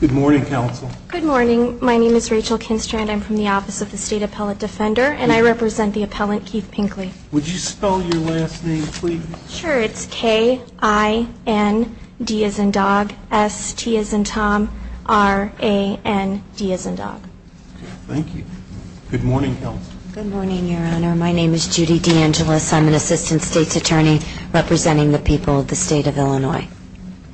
Good morning, Counsel. Good morning. My name is Rachel Kinstrand. I'm from the Office of the State Appellate Defender, and I represent the appellant Keith Pinkley. Would you spell your last name, please? Sure. It's K-I-N-D as in dog, S-T as in Tom, R-A-N-D as in dog. Thank you. Good morning, Counsel. Good morning, Your Honor. My name is Judy DeAngelis. I'm an Assistant State's Attorney representing the people of the State of Illinois.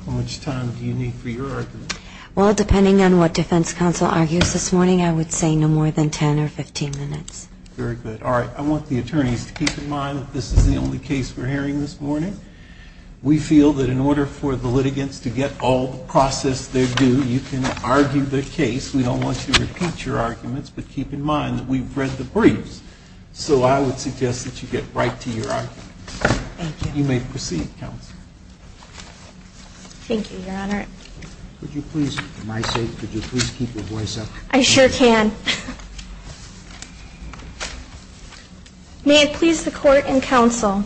How much time do you need for your argument? Well, depending on what defense counsel argues this morning, I would say no more than 10 or 15 minutes. Very good. All right. I want the attorneys to keep in mind that this is the only case we're hearing this morning. We feel that in order for the litigants to get all the process they're due, you can argue the case. We don't want to repeat your arguments, but keep in mind that we've read the briefs, so I would suggest that you get right to your argument. Thank you. You may proceed, Counsel. Thank you, Your Honor. Would you please, for my sake, would you please keep your voice up? I sure can. May it please the Court and Counsel,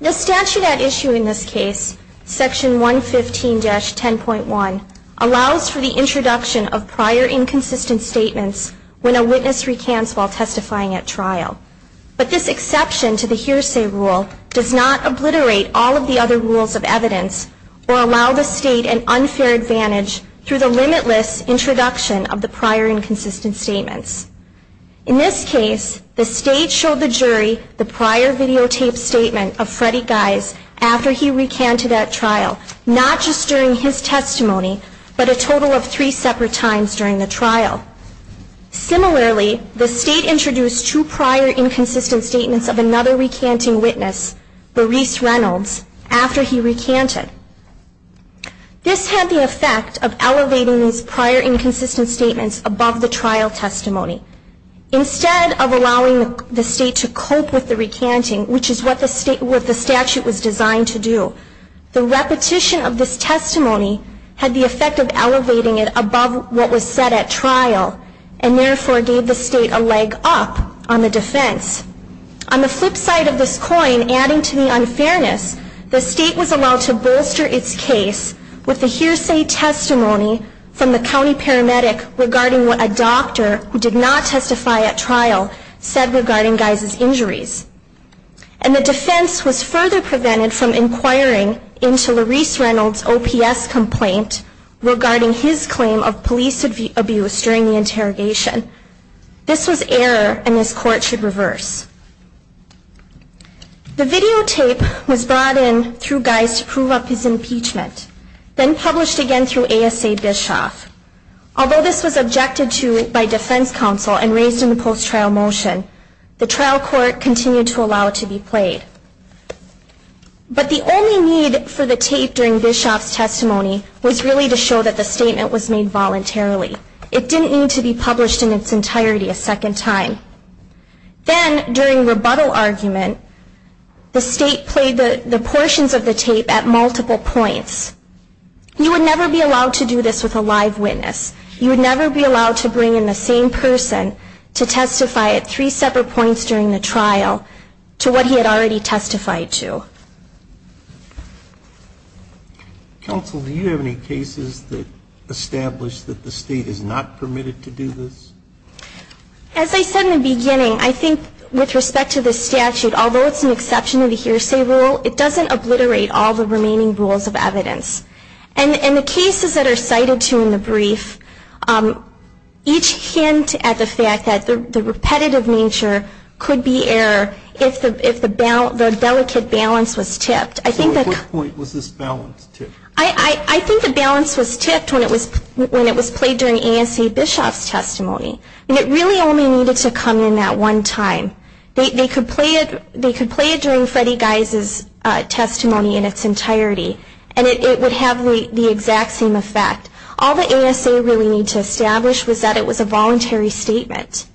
the statute at issue in this case, Section 115-10.1, allows for the introduction of prior inconsistent statements when a witness recants while testifying at trial. But this exception to the hearsay rule does not obliterate all of the other rules of evidence or allow the State an unfair advantage through the limitless introduction of the prior inconsistent statements. In this case, the State showed the jury the prior videotaped statement of Freddie Gies after he recanted at trial, not just during his testimony, but a total of three separate times during the trial. Similarly, the State introduced two prior inconsistent statements of another recanting witness, Boris Reynolds, after he recanted. This had the effect of elevating these prior inconsistent statements above the trial testimony. Instead of allowing the State to cope with the recanting, which is what the statute was designed to do, the repetition of this testimony had the effect of elevating it above what was said at trial and therefore gave the State a leg up on the defense. On the flip side of this coin, adding to the unfairness, the State was allowed to bolster its case with the hearsay testimony from the county paramedic regarding what a doctor who did not testify at trial said regarding Gies' injuries. And the defense was further prevented from inquiring into Laurice Reynolds' OPS complaint regarding his claim of police abuse during the interrogation. This was error and this Court should reverse. The videotape was brought in through Gies to prove up his impeachment, then published again through ASA Bischoff. Although this was objected to by defense counsel and raised in the post-trial motion, the trial court continued to allow it to be played. But the only need for the tape during Bischoff's testimony was really to show that the statement was made voluntarily. It didn't need to be published in its entirety a second time. Then, during rebuttal argument, the State played the portions of the tape at multiple points. You would never be allowed to do this with a live witness. You would never be allowed to bring in the same person to testify at three separate points during the trial to what he had already testified to. Counsel, do you have any cases that establish that the State is not permitted to do this? As I said in the beginning, I think with respect to this statute, although it's an exception to the hearsay rule, it doesn't obliterate all the remaining rules of evidence. In the cases that are cited to in the brief, each hint at the fact that the repetitive nature could be error if the delicate balance was tipped. So at what point was this balance tipped? I think the balance was tipped when it was played during ASA Bischoff's testimony. It really only needed to come in that one time. They could play it during Freddie Geise's testimony in its entirety. And it would have the exact same effect. All the ASA really needed to establish was that it was a voluntary statement.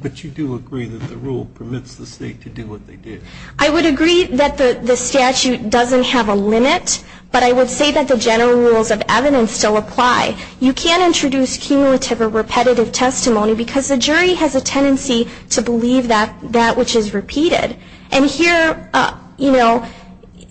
But you do agree that the rule permits the State to do what they did? I would agree that the statute doesn't have a limit, but I would say that the general rules of evidence still apply. You can't introduce cumulative or repetitive testimony because the jury has a tendency to believe that which is repeated. And here, you know,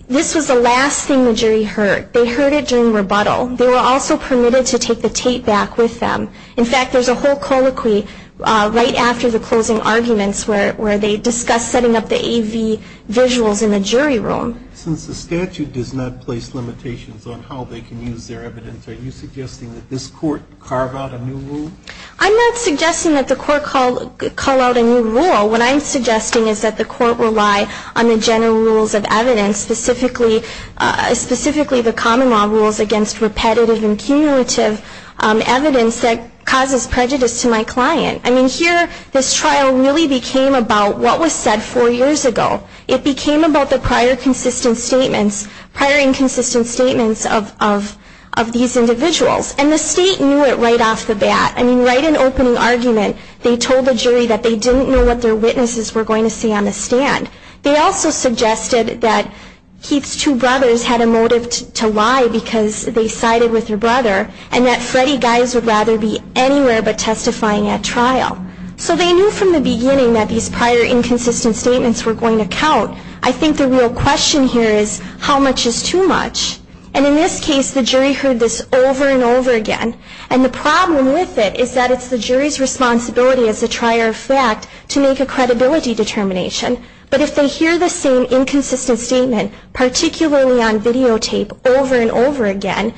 this was the last thing the jury heard. They heard it during rebuttal. They were also permitted to take the tape back with them. In fact, there's a whole colloquy right after the closing arguments where they discuss setting up the AV visuals in the jury room. Since the statute does not place limitations on how they can use their evidence, are you suggesting that this Court carve out a new rule? I'm not suggesting that the Court call out a new rule. What I'm suggesting is that the Court rely on the general rules of evidence, specifically the common law rules against repetitive and cumulative evidence that causes prejudice to my client. I mean, here, this trial really became about what was said four years ago. It became about the prior consistent statements, prior inconsistent statements of these individuals. And the State knew it right off the bat. I mean, right in opening argument, they told the jury that they didn't know what their witnesses were going to say on the stand. They also suggested that Keith's two brothers had a motive to lie because they sided with their brother and that Freddy Geis would rather be anywhere but testifying at trial. So they knew from the beginning that these prior inconsistent statements were going to count. I think the real question here is how much is too much? And in this case, the jury heard this over and over again. And the problem with it is that it's the jury's responsibility as a trier of fact to make a credibility determination. But if they hear the same inconsistent statement, particularly on videotape, over and over again,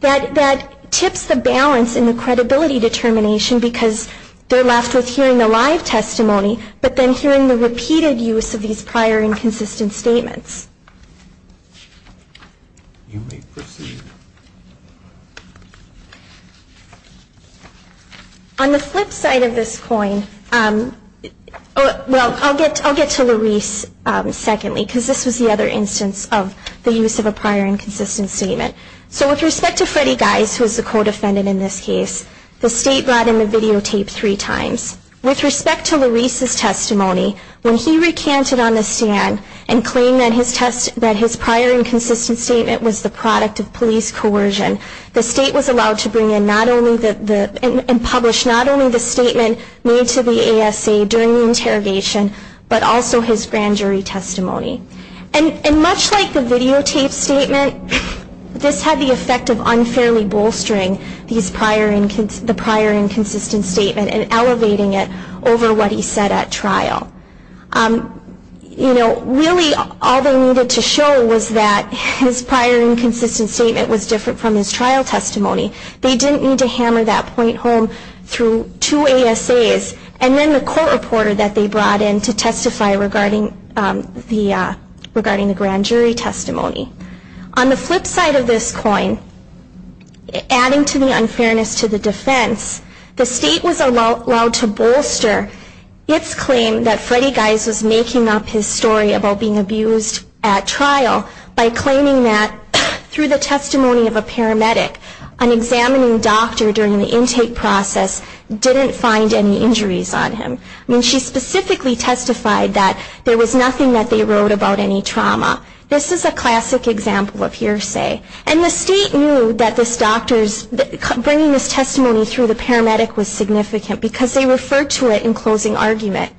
that tips the balance in the credibility determination because they're left with hearing the live testimony but then hearing the repeated use of these prior inconsistent statements. On the flip side of this coin, well, I'll get to Luis secondly because this was the other instance of the use of a prior inconsistent statement. So with respect to Freddy Geis, who is the co-defendant in this case, the State brought him a videotape three times. With respect to Luis's testimony, when he recanted on the stand and claimed that his brother had lied, that his prior inconsistent statement was the product of police coercion, the State was allowed to bring in and publish not only the statement made to the ASA during the interrogation, but also his grand jury testimony. And much like the videotape statement, this had the effect of unfairly bolstering the prior inconsistent statement and elevating it over what he said at trial. You know, really all they needed to show was that his prior inconsistent statement was different from his trial testimony. They didn't need to hammer that point home through two ASAs and then the court reporter that they brought in to testify regarding the grand jury testimony. On the flip side of this coin, adding to the unfairness to the defense, the State was allowed to bolster its claim that Freddy Geis was making up his story about being abused at trial by claiming that through the testimony of a paramedic, an examining doctor during the intake process didn't find any injuries on him. I mean, she specifically testified that there was nothing that they wrote about any trauma. This is a classic example of hearsay. And the State knew that bringing this testimony through the paramedic was significant because they referred to it in closing argument.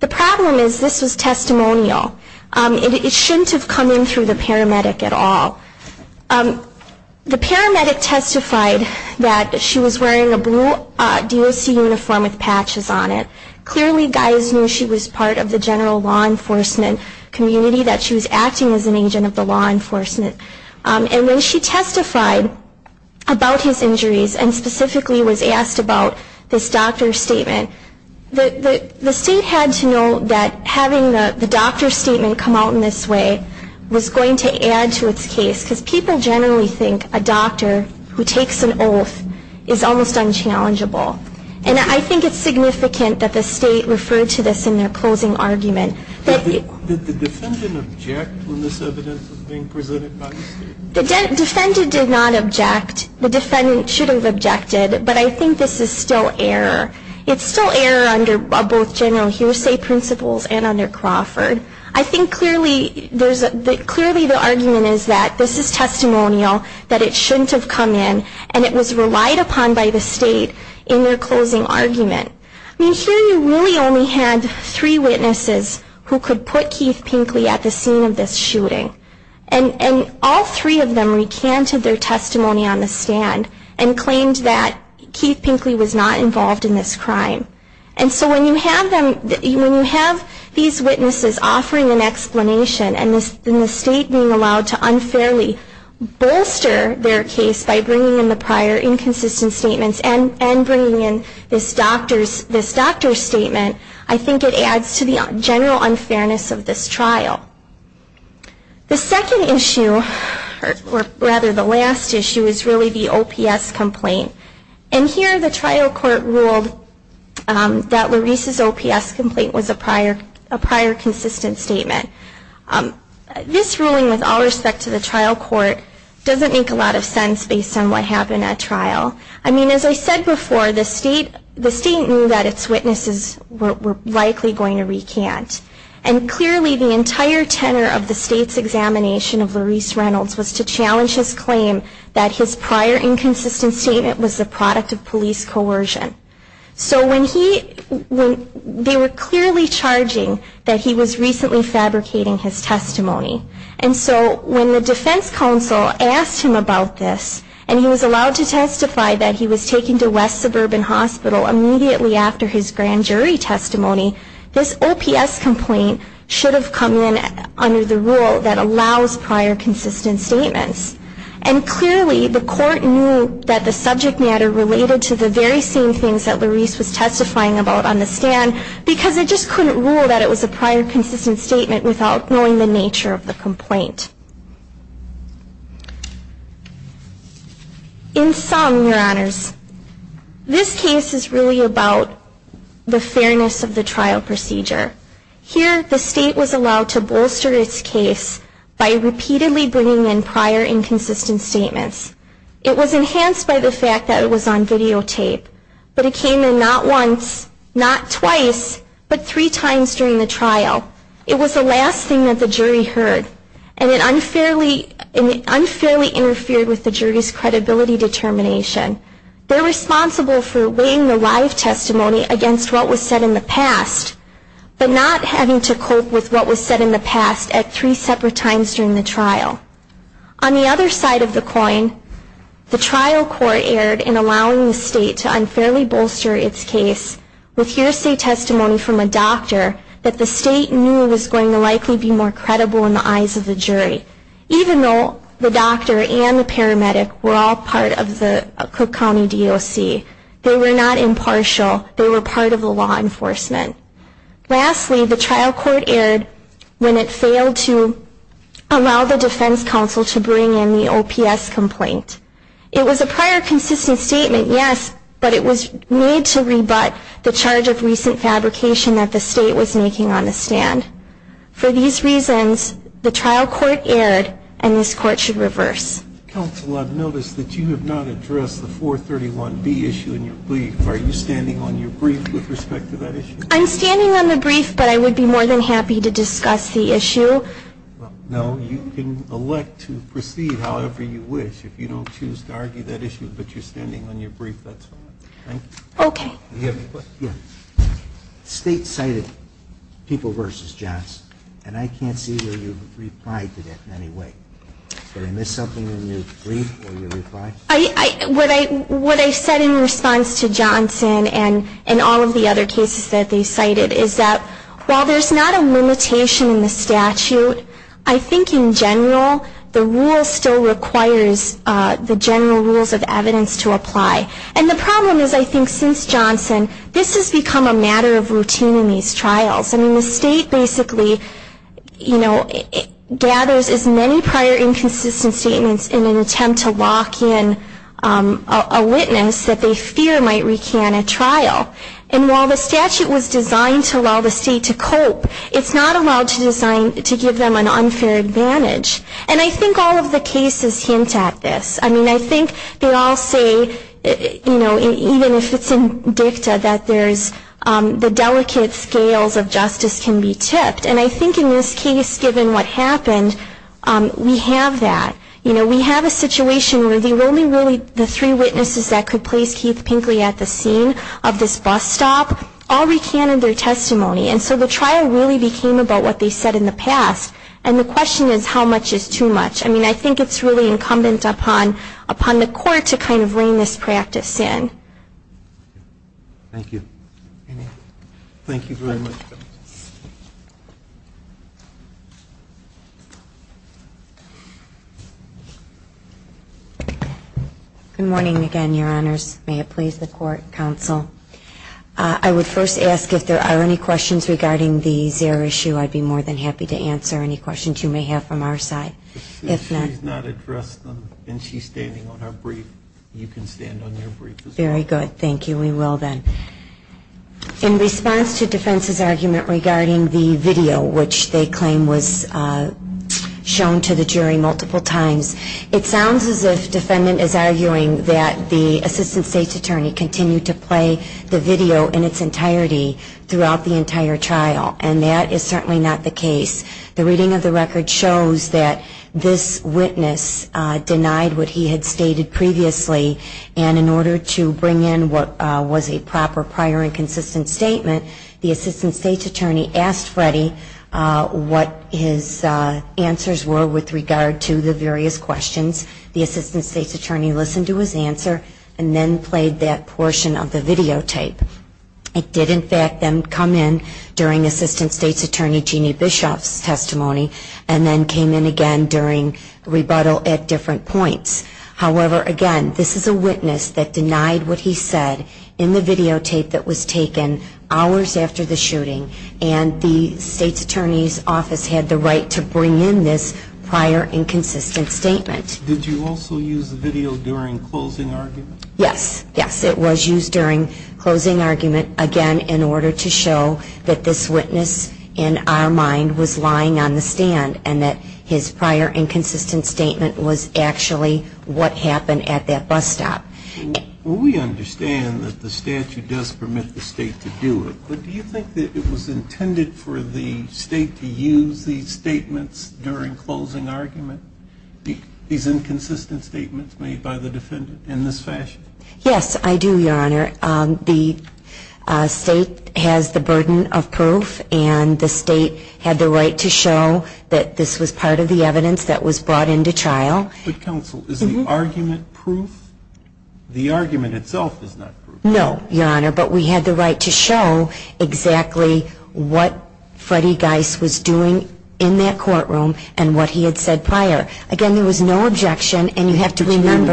The problem is this was testimonial. It shouldn't have come in through the paramedic at all. The paramedic testified that she was wearing a blue DOC uniform with patches on it. Clearly Geis knew she was part of the general law enforcement community, that she was acting as an agent of the law enforcement. And when she testified about his injuries and specifically was asked about this doctor's statement, the State had to know that having the doctor's statement come out in this way was going to add to its case because people generally think a doctor who takes an oath is almost unchallengeable. And I think it's significant that the State referred to this in their closing argument. Did the defendant object when this evidence was being presented by the State? The defendant did not object. The defendant should have objected, but I think this is still error. It's still error under both general hearsay principles and under Crawford. I think clearly the argument is that this is testimonial, that it shouldn't have come in, and it was relied upon by the State in their closing argument. I mean, here you really only had three witnesses who could put Keith Pinkley at the scene of this shooting. And all three of them recanted their testimony on the stand and claimed that Keith Pinkley was not involved in this crime. And so when you have these witnesses offering an explanation and the State being allowed to unfairly bolster their case by bringing in the prior inconsistent statements and bringing in this doctor's statement, I think it adds to the general unfairness of this trial. The second issue, or rather the last issue, is really the OPS complaint. And here the trial court ruled that Lorese's OPS complaint was a prior consistent statement. This ruling, with all respect to the trial court, doesn't make a lot of sense based on what happened at trial. I mean, as I said before, the State knew that its witnesses were likely going to recant. And clearly the entire tenor of the State's examination of Lorese Reynolds was to challenge his claim that his prior inconsistent statement was the product of police coercion. So when he, they were clearly charging that he was recently fabricating his testimony. And so when the defense counsel asked him about this, and he was allowed to testify that he was taken to West Suburban Hospital immediately after his grand jury testimony, this OPS complaint should have come in under the rule that allows prior consistent statements. And clearly the court knew that the subject matter related to the very same things that Lorese was testifying about on the stand, because it just couldn't rule that it was a prior consistent statement without knowing the nature of the complaint. In sum, your honors, this case is really about the fairness of the trial procedure. Here the State was allowed to bolster its case by repeatedly bringing in prior inconsistent statements. It was enhanced by the fact that it was on videotape, but it came in not once, not twice, but three times during the trial. It was the last thing that the jury heard, and it unfairly interfered with the jury's credibility determination. They're responsible for weighing the live testimony against what was said in the past, but not having to cope with what was said in the past at three separate times during the trial. On the other side of the coin, the trial court erred in allowing the State to unfairly bolster its case with hearsay testimony from a doctor that the State knew was going to likely be more credible in the eyes of the jury, even though the doctor and the paramedic were all part of the Cook County DOC. They were not impartial. They were part of the law enforcement. Lastly, the trial court erred when it failed to allow the defense counsel to bring in the OPS complaint. It was a prior consistent statement, yes, but it was made to rebut the charge of recent fabrication that the State was making on the stand. For these reasons, the trial court erred, and this Court should reverse. Counsel, I've noticed that you have not addressed the 431B issue in your brief. Are you standing on your brief with respect to that issue? I'm standing on the brief, but I would be more than happy to discuss the issue. No, you can elect to proceed however you wish. If you don't choose to argue that issue, but you're standing on your brief, that's fine. State cited People v. Johnson, and I can't see where you replied to that in any way. Did I miss something in your brief? What I said in response to Johnson and all of the other cases that they cited is that while there's not a limitation in the statute, I think in general, the rule still requires the general rules of evidence to apply. And the problem is I think since Johnson, this has become a matter of routine in these trials. The State basically gathers as many prior inconsistent statements in an attempt to lock in a witness that they fear might recant a trial. And while the statute was designed to allow the State to cope, it's not allowed to give them an unfair advantage. And I think all of the cases hint at this. I mean, I think they all say, you know, even if it's in dicta, that there's the delicate scales of justice can be tipped. And I think in this case, given what happened, we have that. You know, we have a situation where the only really the three witnesses that could place Keith Pinkley at the scene of this bus stop all recanted their testimony. And so the trial really became about what they said in the past. And it's really on the court to kind of rein this practice in. Thank you very much, Judge. Good morning again, Your Honors. May it please the court, counsel. I would first ask if there are any questions regarding the Zaire issue. I'd be more than happy to answer any questions you may have from our side. I'm standing on our brief. You can stand on your brief as well. Very good. Thank you. We will then. In response to defense's argument regarding the video, which they claim was shown to the jury multiple times, it sounds as if defendant is arguing that the assistant state's attorney continued to play the video in its entirety throughout the entire trial. And that is certainly not the case. As I had stated previously, and in order to bring in what was a proper prior and consistent statement, the assistant state's attorney asked Freddie what his answers were with regard to the various questions. The assistant state's attorney listened to his answer and then played that portion of the videotape. It did in fact then come in during assistant state's attorney Jeannie Bischoff's testimony and then came in again during rebuttal at different points. However, again, this is a witness that denied what he said in the videotape that was taken hours after the shooting and the state's attorney's office had the right to bring in this prior and consistent statement. Did you also use the video during closing argument? Yes. Yes, it was used during closing argument, again, in order to show that this witness in our mind was lying on the stand and that his prior and consistent statement was actually what he said. And that's what happened at that bus stop. We understand that the statute does permit the state to do it, but do you think that it was intended for the state to use these statements during closing argument, these inconsistent statements made by the defendant in this fashion? Yes, I do, Your Honor. The state has the burden of proof and the state had the right to show that this was part of the evidence that was brought into trial. Is the argument proof? The argument itself is not proof. No, Your Honor, but we had the right to show exactly what Freddie Geiss was doing in that courtroom and what he had said prior. Again, there was no objection and you have to remember... I'm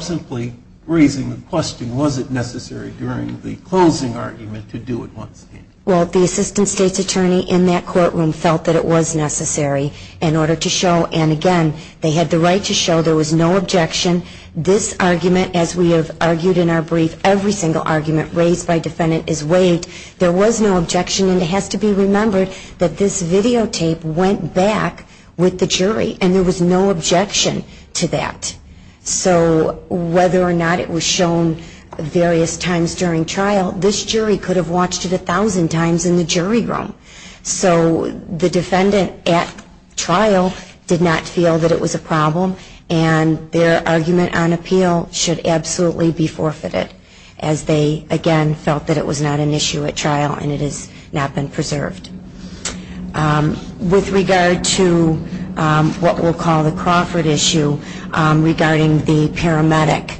simply raising the question, was it necessary during the closing argument to do it once again? Well, the assistant state's attorney in that courtroom felt that it was necessary in order to show, and again, they had the right to show there was no objection. This argument, as we have argued in our brief, every single argument raised by defendant is weighed. There was no objection and it has to be remembered that this videotape went back with the jury and there was no objection to that. So whether or not it was shown various times during trial, this jury could have watched it a thousand times in the jury room. So the defendant at trial did not feel that it was a problem and their argument on appeal should absolutely be forfeited as they, again, felt that it was not an issue at trial and it has not been preserved. With regard to what we'll call the Crawford issue regarding the paramedic,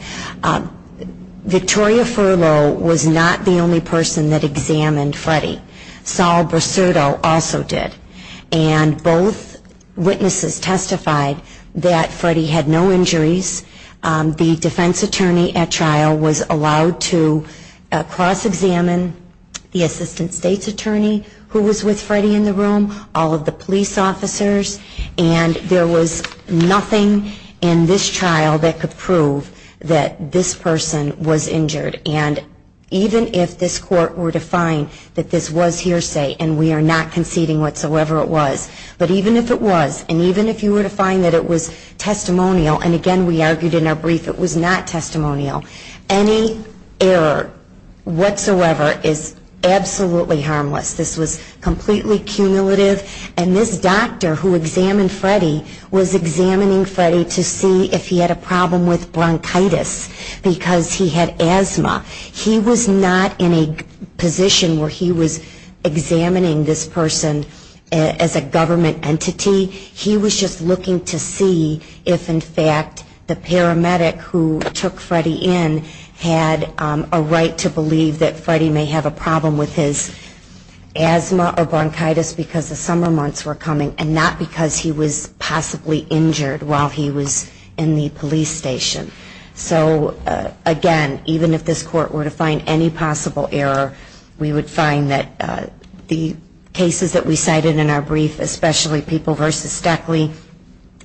Victoria Furlow was not the only person that examined Freddie. Sol Brasurdo also did. And both witnesses testified that Freddie had no injuries. The defense attorney at trial was allowed to cross-examine the assistant state's attorney who was with Freddie in the room, all of the police officers, and there was nothing in this trial that could prove that this person was injured. And even if this court were to find that this was hearsay, and we are not conceding whatsoever it was, but even if it was, and even if you were to find that it was testimonial, and, again, we are not conceding whatsoever it was, but, again, we are not conceding whatsoever it was, we argued in our brief it was not testimonial, any error whatsoever is absolutely harmless, this was completely cumulative, and this doctor who examined Freddie was examining Freddie to see if he had a problem with bronchitis, because he had asthma. He was not in a position where he was examining this person as a government entity, he was just looking to see if, in fact, the patient had bronchitis. And the paramedic who took Freddie in had a right to believe that Freddie may have a problem with his asthma or bronchitis because the summer months were coming, and not because he was possibly injured while he was in the police station. So, again, even if this court were to find any possible error, we would find that the cases that we cited in our brief, especially people versus Stackley,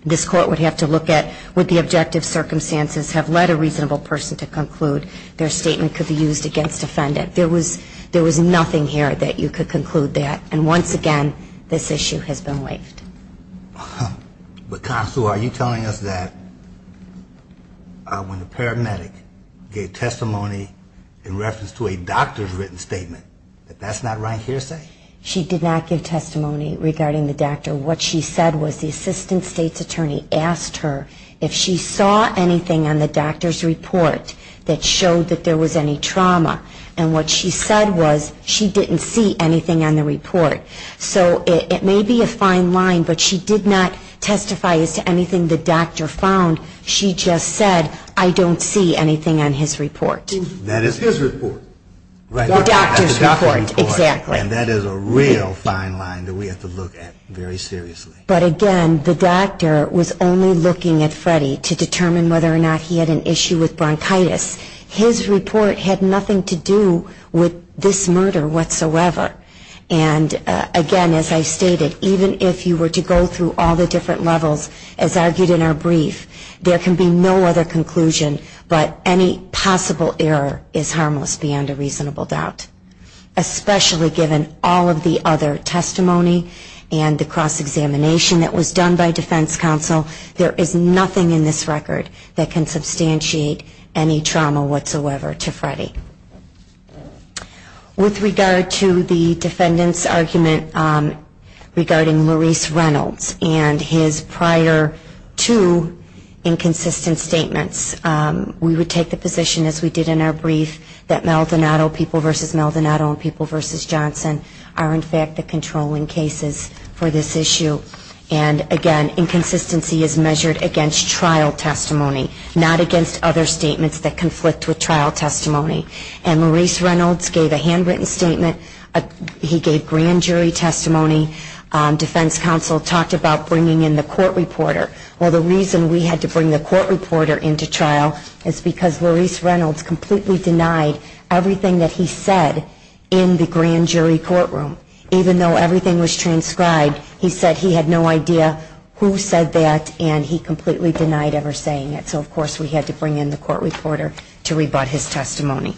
this court would have to look at, would the objective circumstance be that Freddie had bronchitis? And if the objective circumstances have led a reasonable person to conclude, their statement could be used against the defendant. There was nothing here that you could conclude that, and once again, this issue has been waived. But, Consul, are you telling us that when the paramedic gave testimony in reference to a doctor's written statement, that that's not right hearsay? She did not give testimony regarding the doctor. What she said was the assistant state's attorney asked her if she saw any evidence of a doctor's written statement. She did not see anything on the doctor's report that showed that there was any trauma. And what she said was she didn't see anything on the report. So it may be a fine line, but she did not testify as to anything the doctor found. She just said, I don't see anything on his report. That is his report. The doctor's report, exactly. And that is a real fine line that we have to look at very seriously. But again, the doctor was only looking at Freddie to determine whether or not he had an issue with bronchitis. His report had nothing to do with this murder whatsoever. And again, as I stated, even if you were to go through all the different levels, as argued in our brief, there can be no other conclusion, but any possible error is harmless beyond a reasonable doubt. Especially given all of the other testimony and the cross-examination that was done by defense counsel, there is nothing in this record that can substantiate any trauma whatsoever to Freddie. With regard to the defendant's argument regarding Maurice Reynolds and his prior two inconsistent statements, we would take the position, as we did in our brief, that Maldonado People v. Johnson are, in fact, the controlling cases for this issue. And again, inconsistency is measured against trial testimony, not against other statements that conflict with trial testimony. And Maurice Reynolds gave a handwritten statement, he gave grand jury testimony, defense counsel talked about bringing in the court reporter. Well, the reason we had to bring the court reporter into trial is because Maurice Reynolds completely denied everything that he said about the trial. He said he had no idea who said that, and he completely denied ever saying it. So, of course, we had to bring in the court reporter to rebut his testimony.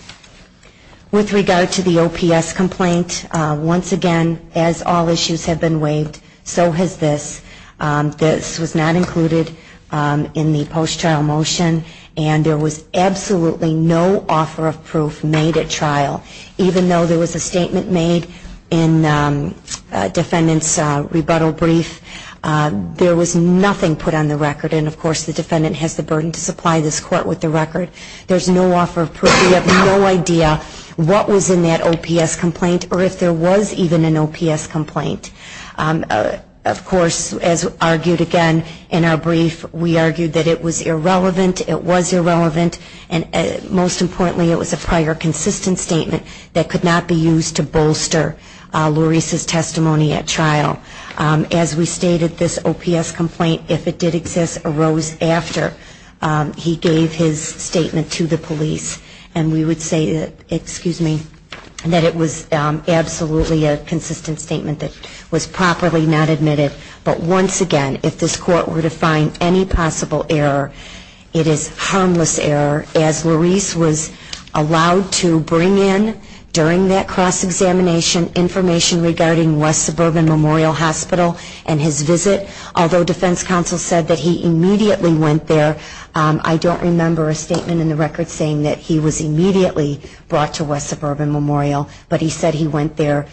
With regard to the OPS complaint, once again, as all issues have been waived, so has this. This was not included in the post-trial motion, and there was absolutely no offer of proof made at trial, even in the grand jury courtroom. Even though there was a statement made in defendant's rebuttal brief, there was nothing put on the record, and, of course, the defendant has the burden to supply this court with the record. There's no offer of proof. We have no idea what was in that OPS complaint, or if there was even an OPS complaint. Of course, as argued again in our brief, we argued that it was irrelevant, it was irrelevant, and, most importantly, it was a prior consistent statement that came out of the OPS complaint. It could not be used to bolster Laurice's testimony at trial. As we stated, this OPS complaint, if it did exist, arose after he gave his statement to the police, and we would say that, excuse me, that it was absolutely a consistent statement that was properly not admitted. But, once again, if this court were to find any possible error, it is harmless error, as Laurice was allowed to bring in during the trial. During that cross-examination, information regarding West Suburban Memorial Hospital and his visit, although defense counsel said that he immediately went there, I don't remember a statement in the record saying that he was immediately brought to West Suburban Memorial, but he said he went there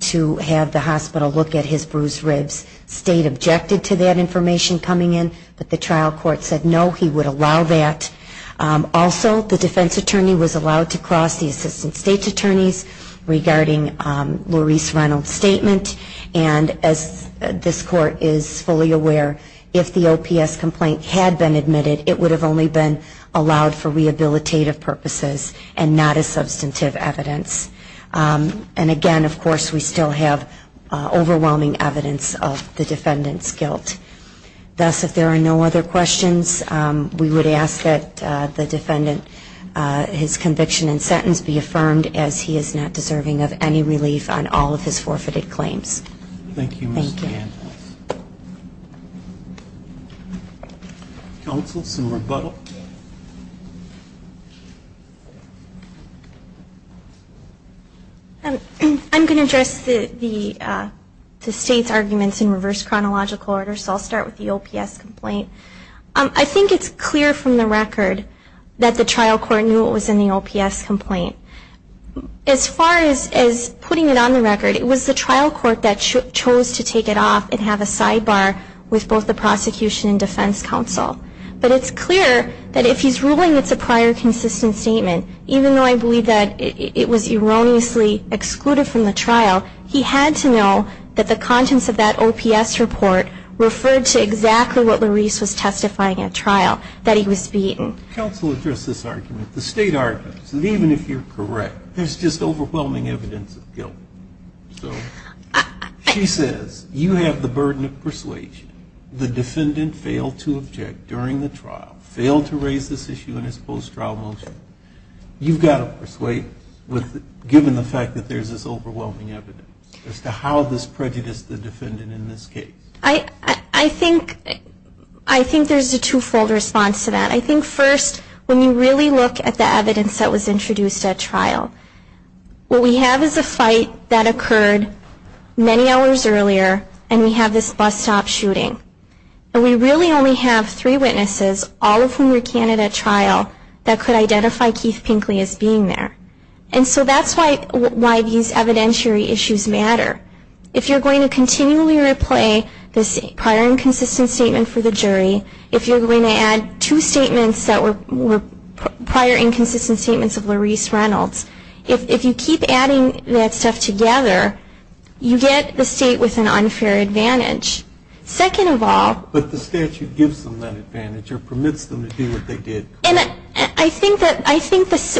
to have the hospital look at his bruised ribs. State objected to that information coming in, but the trial court said no, he would allow that. Also, the defense attorney was allowed to cross the assistant state attorneys regarding Laurice Reynolds' statement, and as this court is fully aware, if the OPS complaint had been admitted, it would have only been allowed for rehabilitative purposes and not as substantive evidence. And, again, of course, we still have overwhelming evidence of the defendant's guilt. Thus, if there are no other questions, we would ask that the defendant, his conviction and sentence be affirmed, as he is not deserving of any relief on all of his forfeited claims. Thank you, Ms. DeAnne. Counsel, some rebuttal? I think it's clear from the record that the trial court knew what was in the OPS complaint. As far as putting it on the record, it was the trial court that chose to take it off and have a sidebar with both the prosecution and defense counsel. But it's clear that if he's ruling it's a prior consistent statement, even though I believe that it was erroneously excluded from the trial, he had to know that the trial court was going to take it off and have a sidebar with both the prosecution and the defense counsel. Counsel, address this argument. The state argues that even if you're correct, there's just overwhelming evidence of guilt. She says you have the burden of persuasion, the defendant failed to object during the trial, failed to raise this issue in his post-trial motion, you've got to persuade, given the fact that there's this overwhelming evidence as to how this prejudiced the defendant in this case. I think there's a two-fold response to that. I think first, when you really look at the evidence that was introduced at trial, what we have is a fight that occurred many hours earlier, and we have this bus stop shooting, and we really only have three witnesses, all of whom were counted at trial, that could identify Keith Pinkley as being there. And so that's why these evidentiary issues matter. If you're going to continually replay this prior inconsistent statement for the jury, if you're going to add two statements that were prior inconsistent statements of Laurice Reynolds, if you keep adding that stuff together, you get the state with an unfair advantage. Second of all, but the statute gives them that advantage or permits them to do what they did. And I think that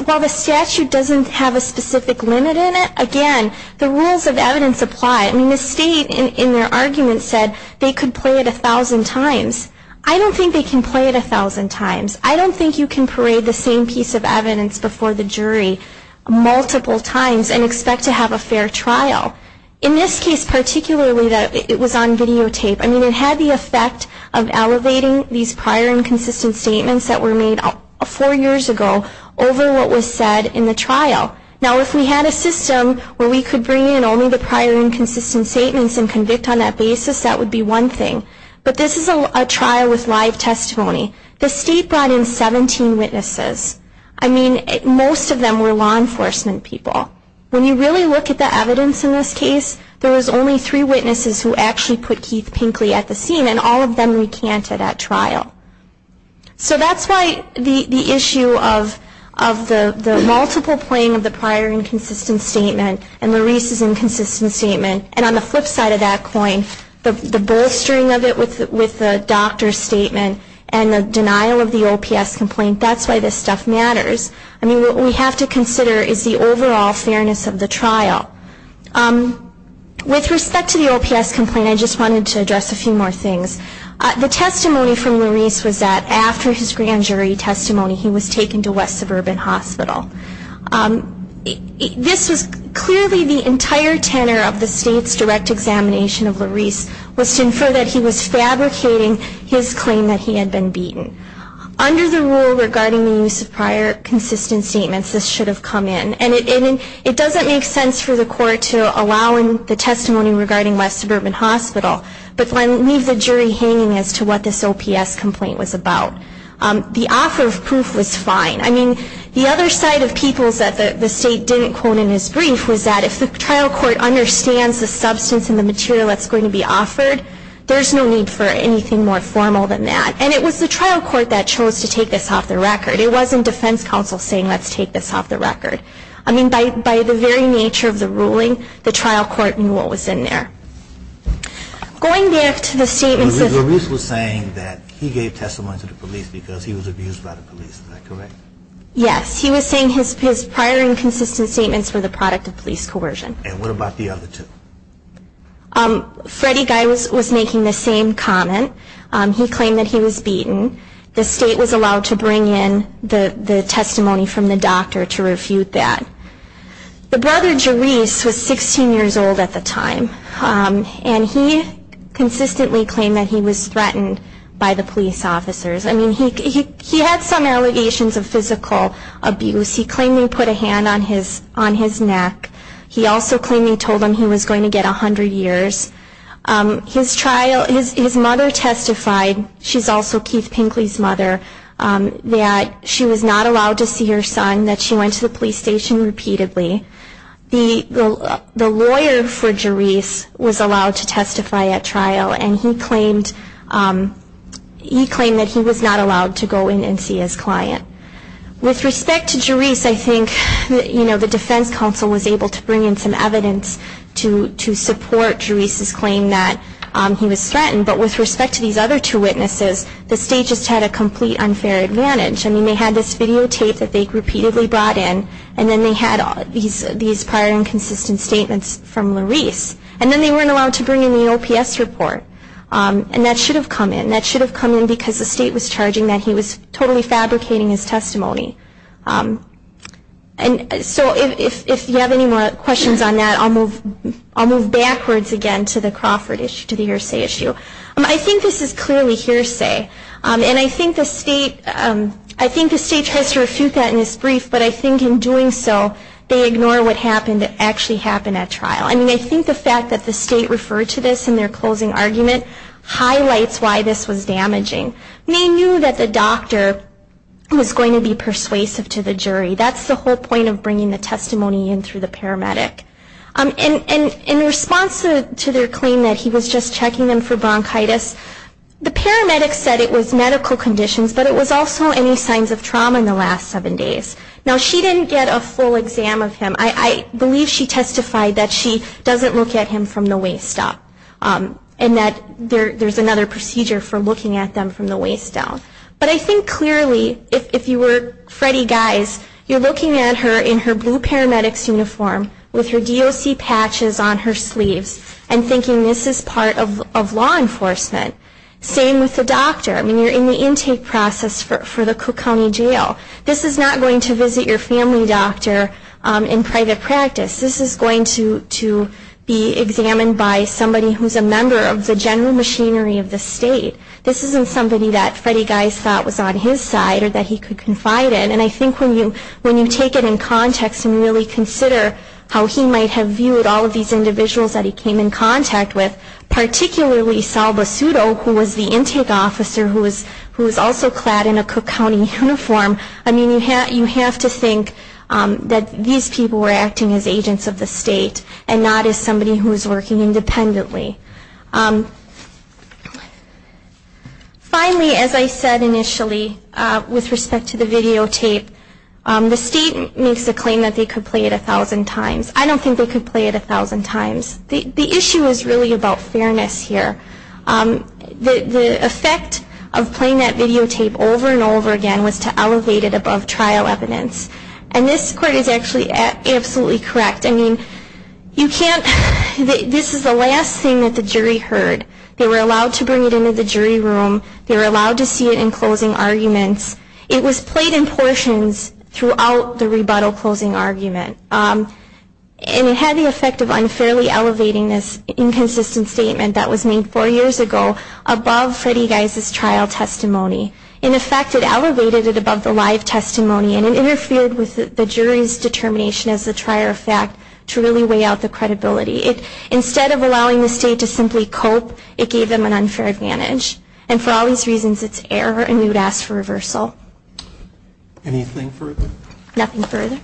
while the statute doesn't have a specific limit in it, again, the rules of evidence apply. I mean, the state in their argument said they could play it 1,000 times. I don't think they can play it 1,000 times. I don't think you can parade the same piece of evidence before the jury multiple times and expect to have a fair trial. In this case particularly, it was on videotape. I mean, it had the effect of elevating these prior inconsistent statements that were made four years ago over what was said in the trial. Now, if we had a system where we could bring in only the prior inconsistent statements and convict on that basis, that would be one thing. But this is a trial with live testimony. The state brought in 17 witnesses. I mean, most of them were law enforcement people. When you really look at the evidence in this case, there was only three witnesses who actually put Keith Pinkley at the scene and all of them recanted at trial. So that's why the issue of the multiple playing of the prior inconsistent statement and Laurice's inconsistent statement, and on the flip side of that coin, the bolstering of it with the doctor's statement and the denial of the OPS complaint, that's why this stuff matters. I mean, what we have to consider is the overall fairness of the trial. With respect to the OPS complaint, I just wanted to address a few more things. The testimony from Laurice was that after his grand jury testimony, he was taken to West Suburban Hospital. This was clearly the entire tenor of the state's direct examination of Laurice was to infer that he was fabricating his claim that he had been beaten. Under the rule regarding the use of prior consistent statements, this should have come in, and it doesn't make sense for the court to allow in the testimony regarding West Suburban Hospital, but leave the jury hanging as to what this OPS complaint was about. The offer of proof was fine. I mean, the other side of people's that the state didn't quote in his brief was that if the trial court understands the substance and the material that's going to be offered, there's no need for anything more formal than that. And it was the trial court that chose to take this off the record. It wasn't defense counsel saying, let's take this off the record. I mean, by the very nature of the ruling, the trial court knew what was in there. Going back to the statements of... Yes, he was saying his prior inconsistent statements were the product of police coercion. Freddie Guy was making the same comment. He claimed that he was beaten. The state was allowed to bring in the testimony from the doctor to refute that. The brother, Jerese, was 16 years old at the time, and he consistently claimed that he was threatened by the police officers. I mean, he had some allegations of physical abuse. He claimed he put a hand on his neck. He also claimed he told him he was going to get 100 years. His trial, his mother testified, she's also Keith Pinkley's mother, that she was not allowed to see her son, that she went to the police station repeatedly. The lawyer for Jerese was allowed to testify at trial, and he claimed that he was not allowed to go in and see his client. With respect to Jerese, I think, you know, the defense counsel was able to bring in some evidence to support Jerese's claim. He was threatened, but with respect to these other two witnesses, the state just had a complete unfair advantage. I mean, they had this videotape that they repeatedly brought in, and then they had these prior inconsistent statements from Lerese. And then they weren't allowed to bring in the OPS report, and that should have come in. That should have come in because the state was charging that he was totally fabricating his testimony. And so if you have any more questions on that, I'll move backwards again to the next slide. I'll move back to the Crawford issue, to the hearsay issue. I think this is clearly hearsay, and I think the state tries to refute that in this brief, but I think in doing so, they ignore what happened that actually happened at trial. I mean, I think the fact that the state referred to this in their closing argument highlights why this was damaging. They knew that the doctor was going to be persuasive to the jury. That's the whole point of bringing the testimony in through the paramedic. The paramedics didn't claim that he was just checking them for bronchitis. The paramedics said it was medical conditions, but it was also any signs of trauma in the last seven days. Now, she didn't get a full exam of him. I believe she testified that she doesn't look at him from the waist up, and that there's another procedure for looking at them from the waist down. But I think clearly, if you were Freddie Geist, you're looking at her in her blue paramedics uniform with her DOC patches on her sleeves, and thinking, this is part of law enforcement. Same with the doctor. I mean, you're in the intake process for the Cook County Jail. This is not going to visit your family doctor in private practice. This is going to be examined by somebody who's a member of the general machinery of the state. This isn't somebody that Freddie Geist thought was on his side or that he could confide in. And I think when you take it in context and really consider how he might have viewed all of these individuals that he came in contact with, particularly Sal Basuto, who was the intake officer who was also clad in a Cook County uniform, I mean, you have to think that these people were acting as agents of the state and not as somebody who was working independently. Finally, as I said initially, with respect to the videotape, the state makes the claim that they could play it 1,000 times. I don't think they could play it 1,000 times. The issue is really about fairness here. The effect of playing that videotape over and over again was to elevate it above trial evidence. And this court is actually absolutely correct. I mean, you can't, this is the last thing that the jury heard. They were allowed to bring it into the jury room. They were allowed to see it in closing arguments. It was played in portions throughout the rebuttal closing argument. And it had the effect of unfairly elevating this inconsistent statement that was made four years ago above Freddy Geise's trial testimony. In effect, it elevated it above the live testimony and it interfered with the jury's determination as a trier of fact to really weigh out the credibility. Instead of allowing the state to simply cope, it gave them an unfair advantage. And for all these reasons, it's error and we would ask for reversal. Anything further? Nothing further.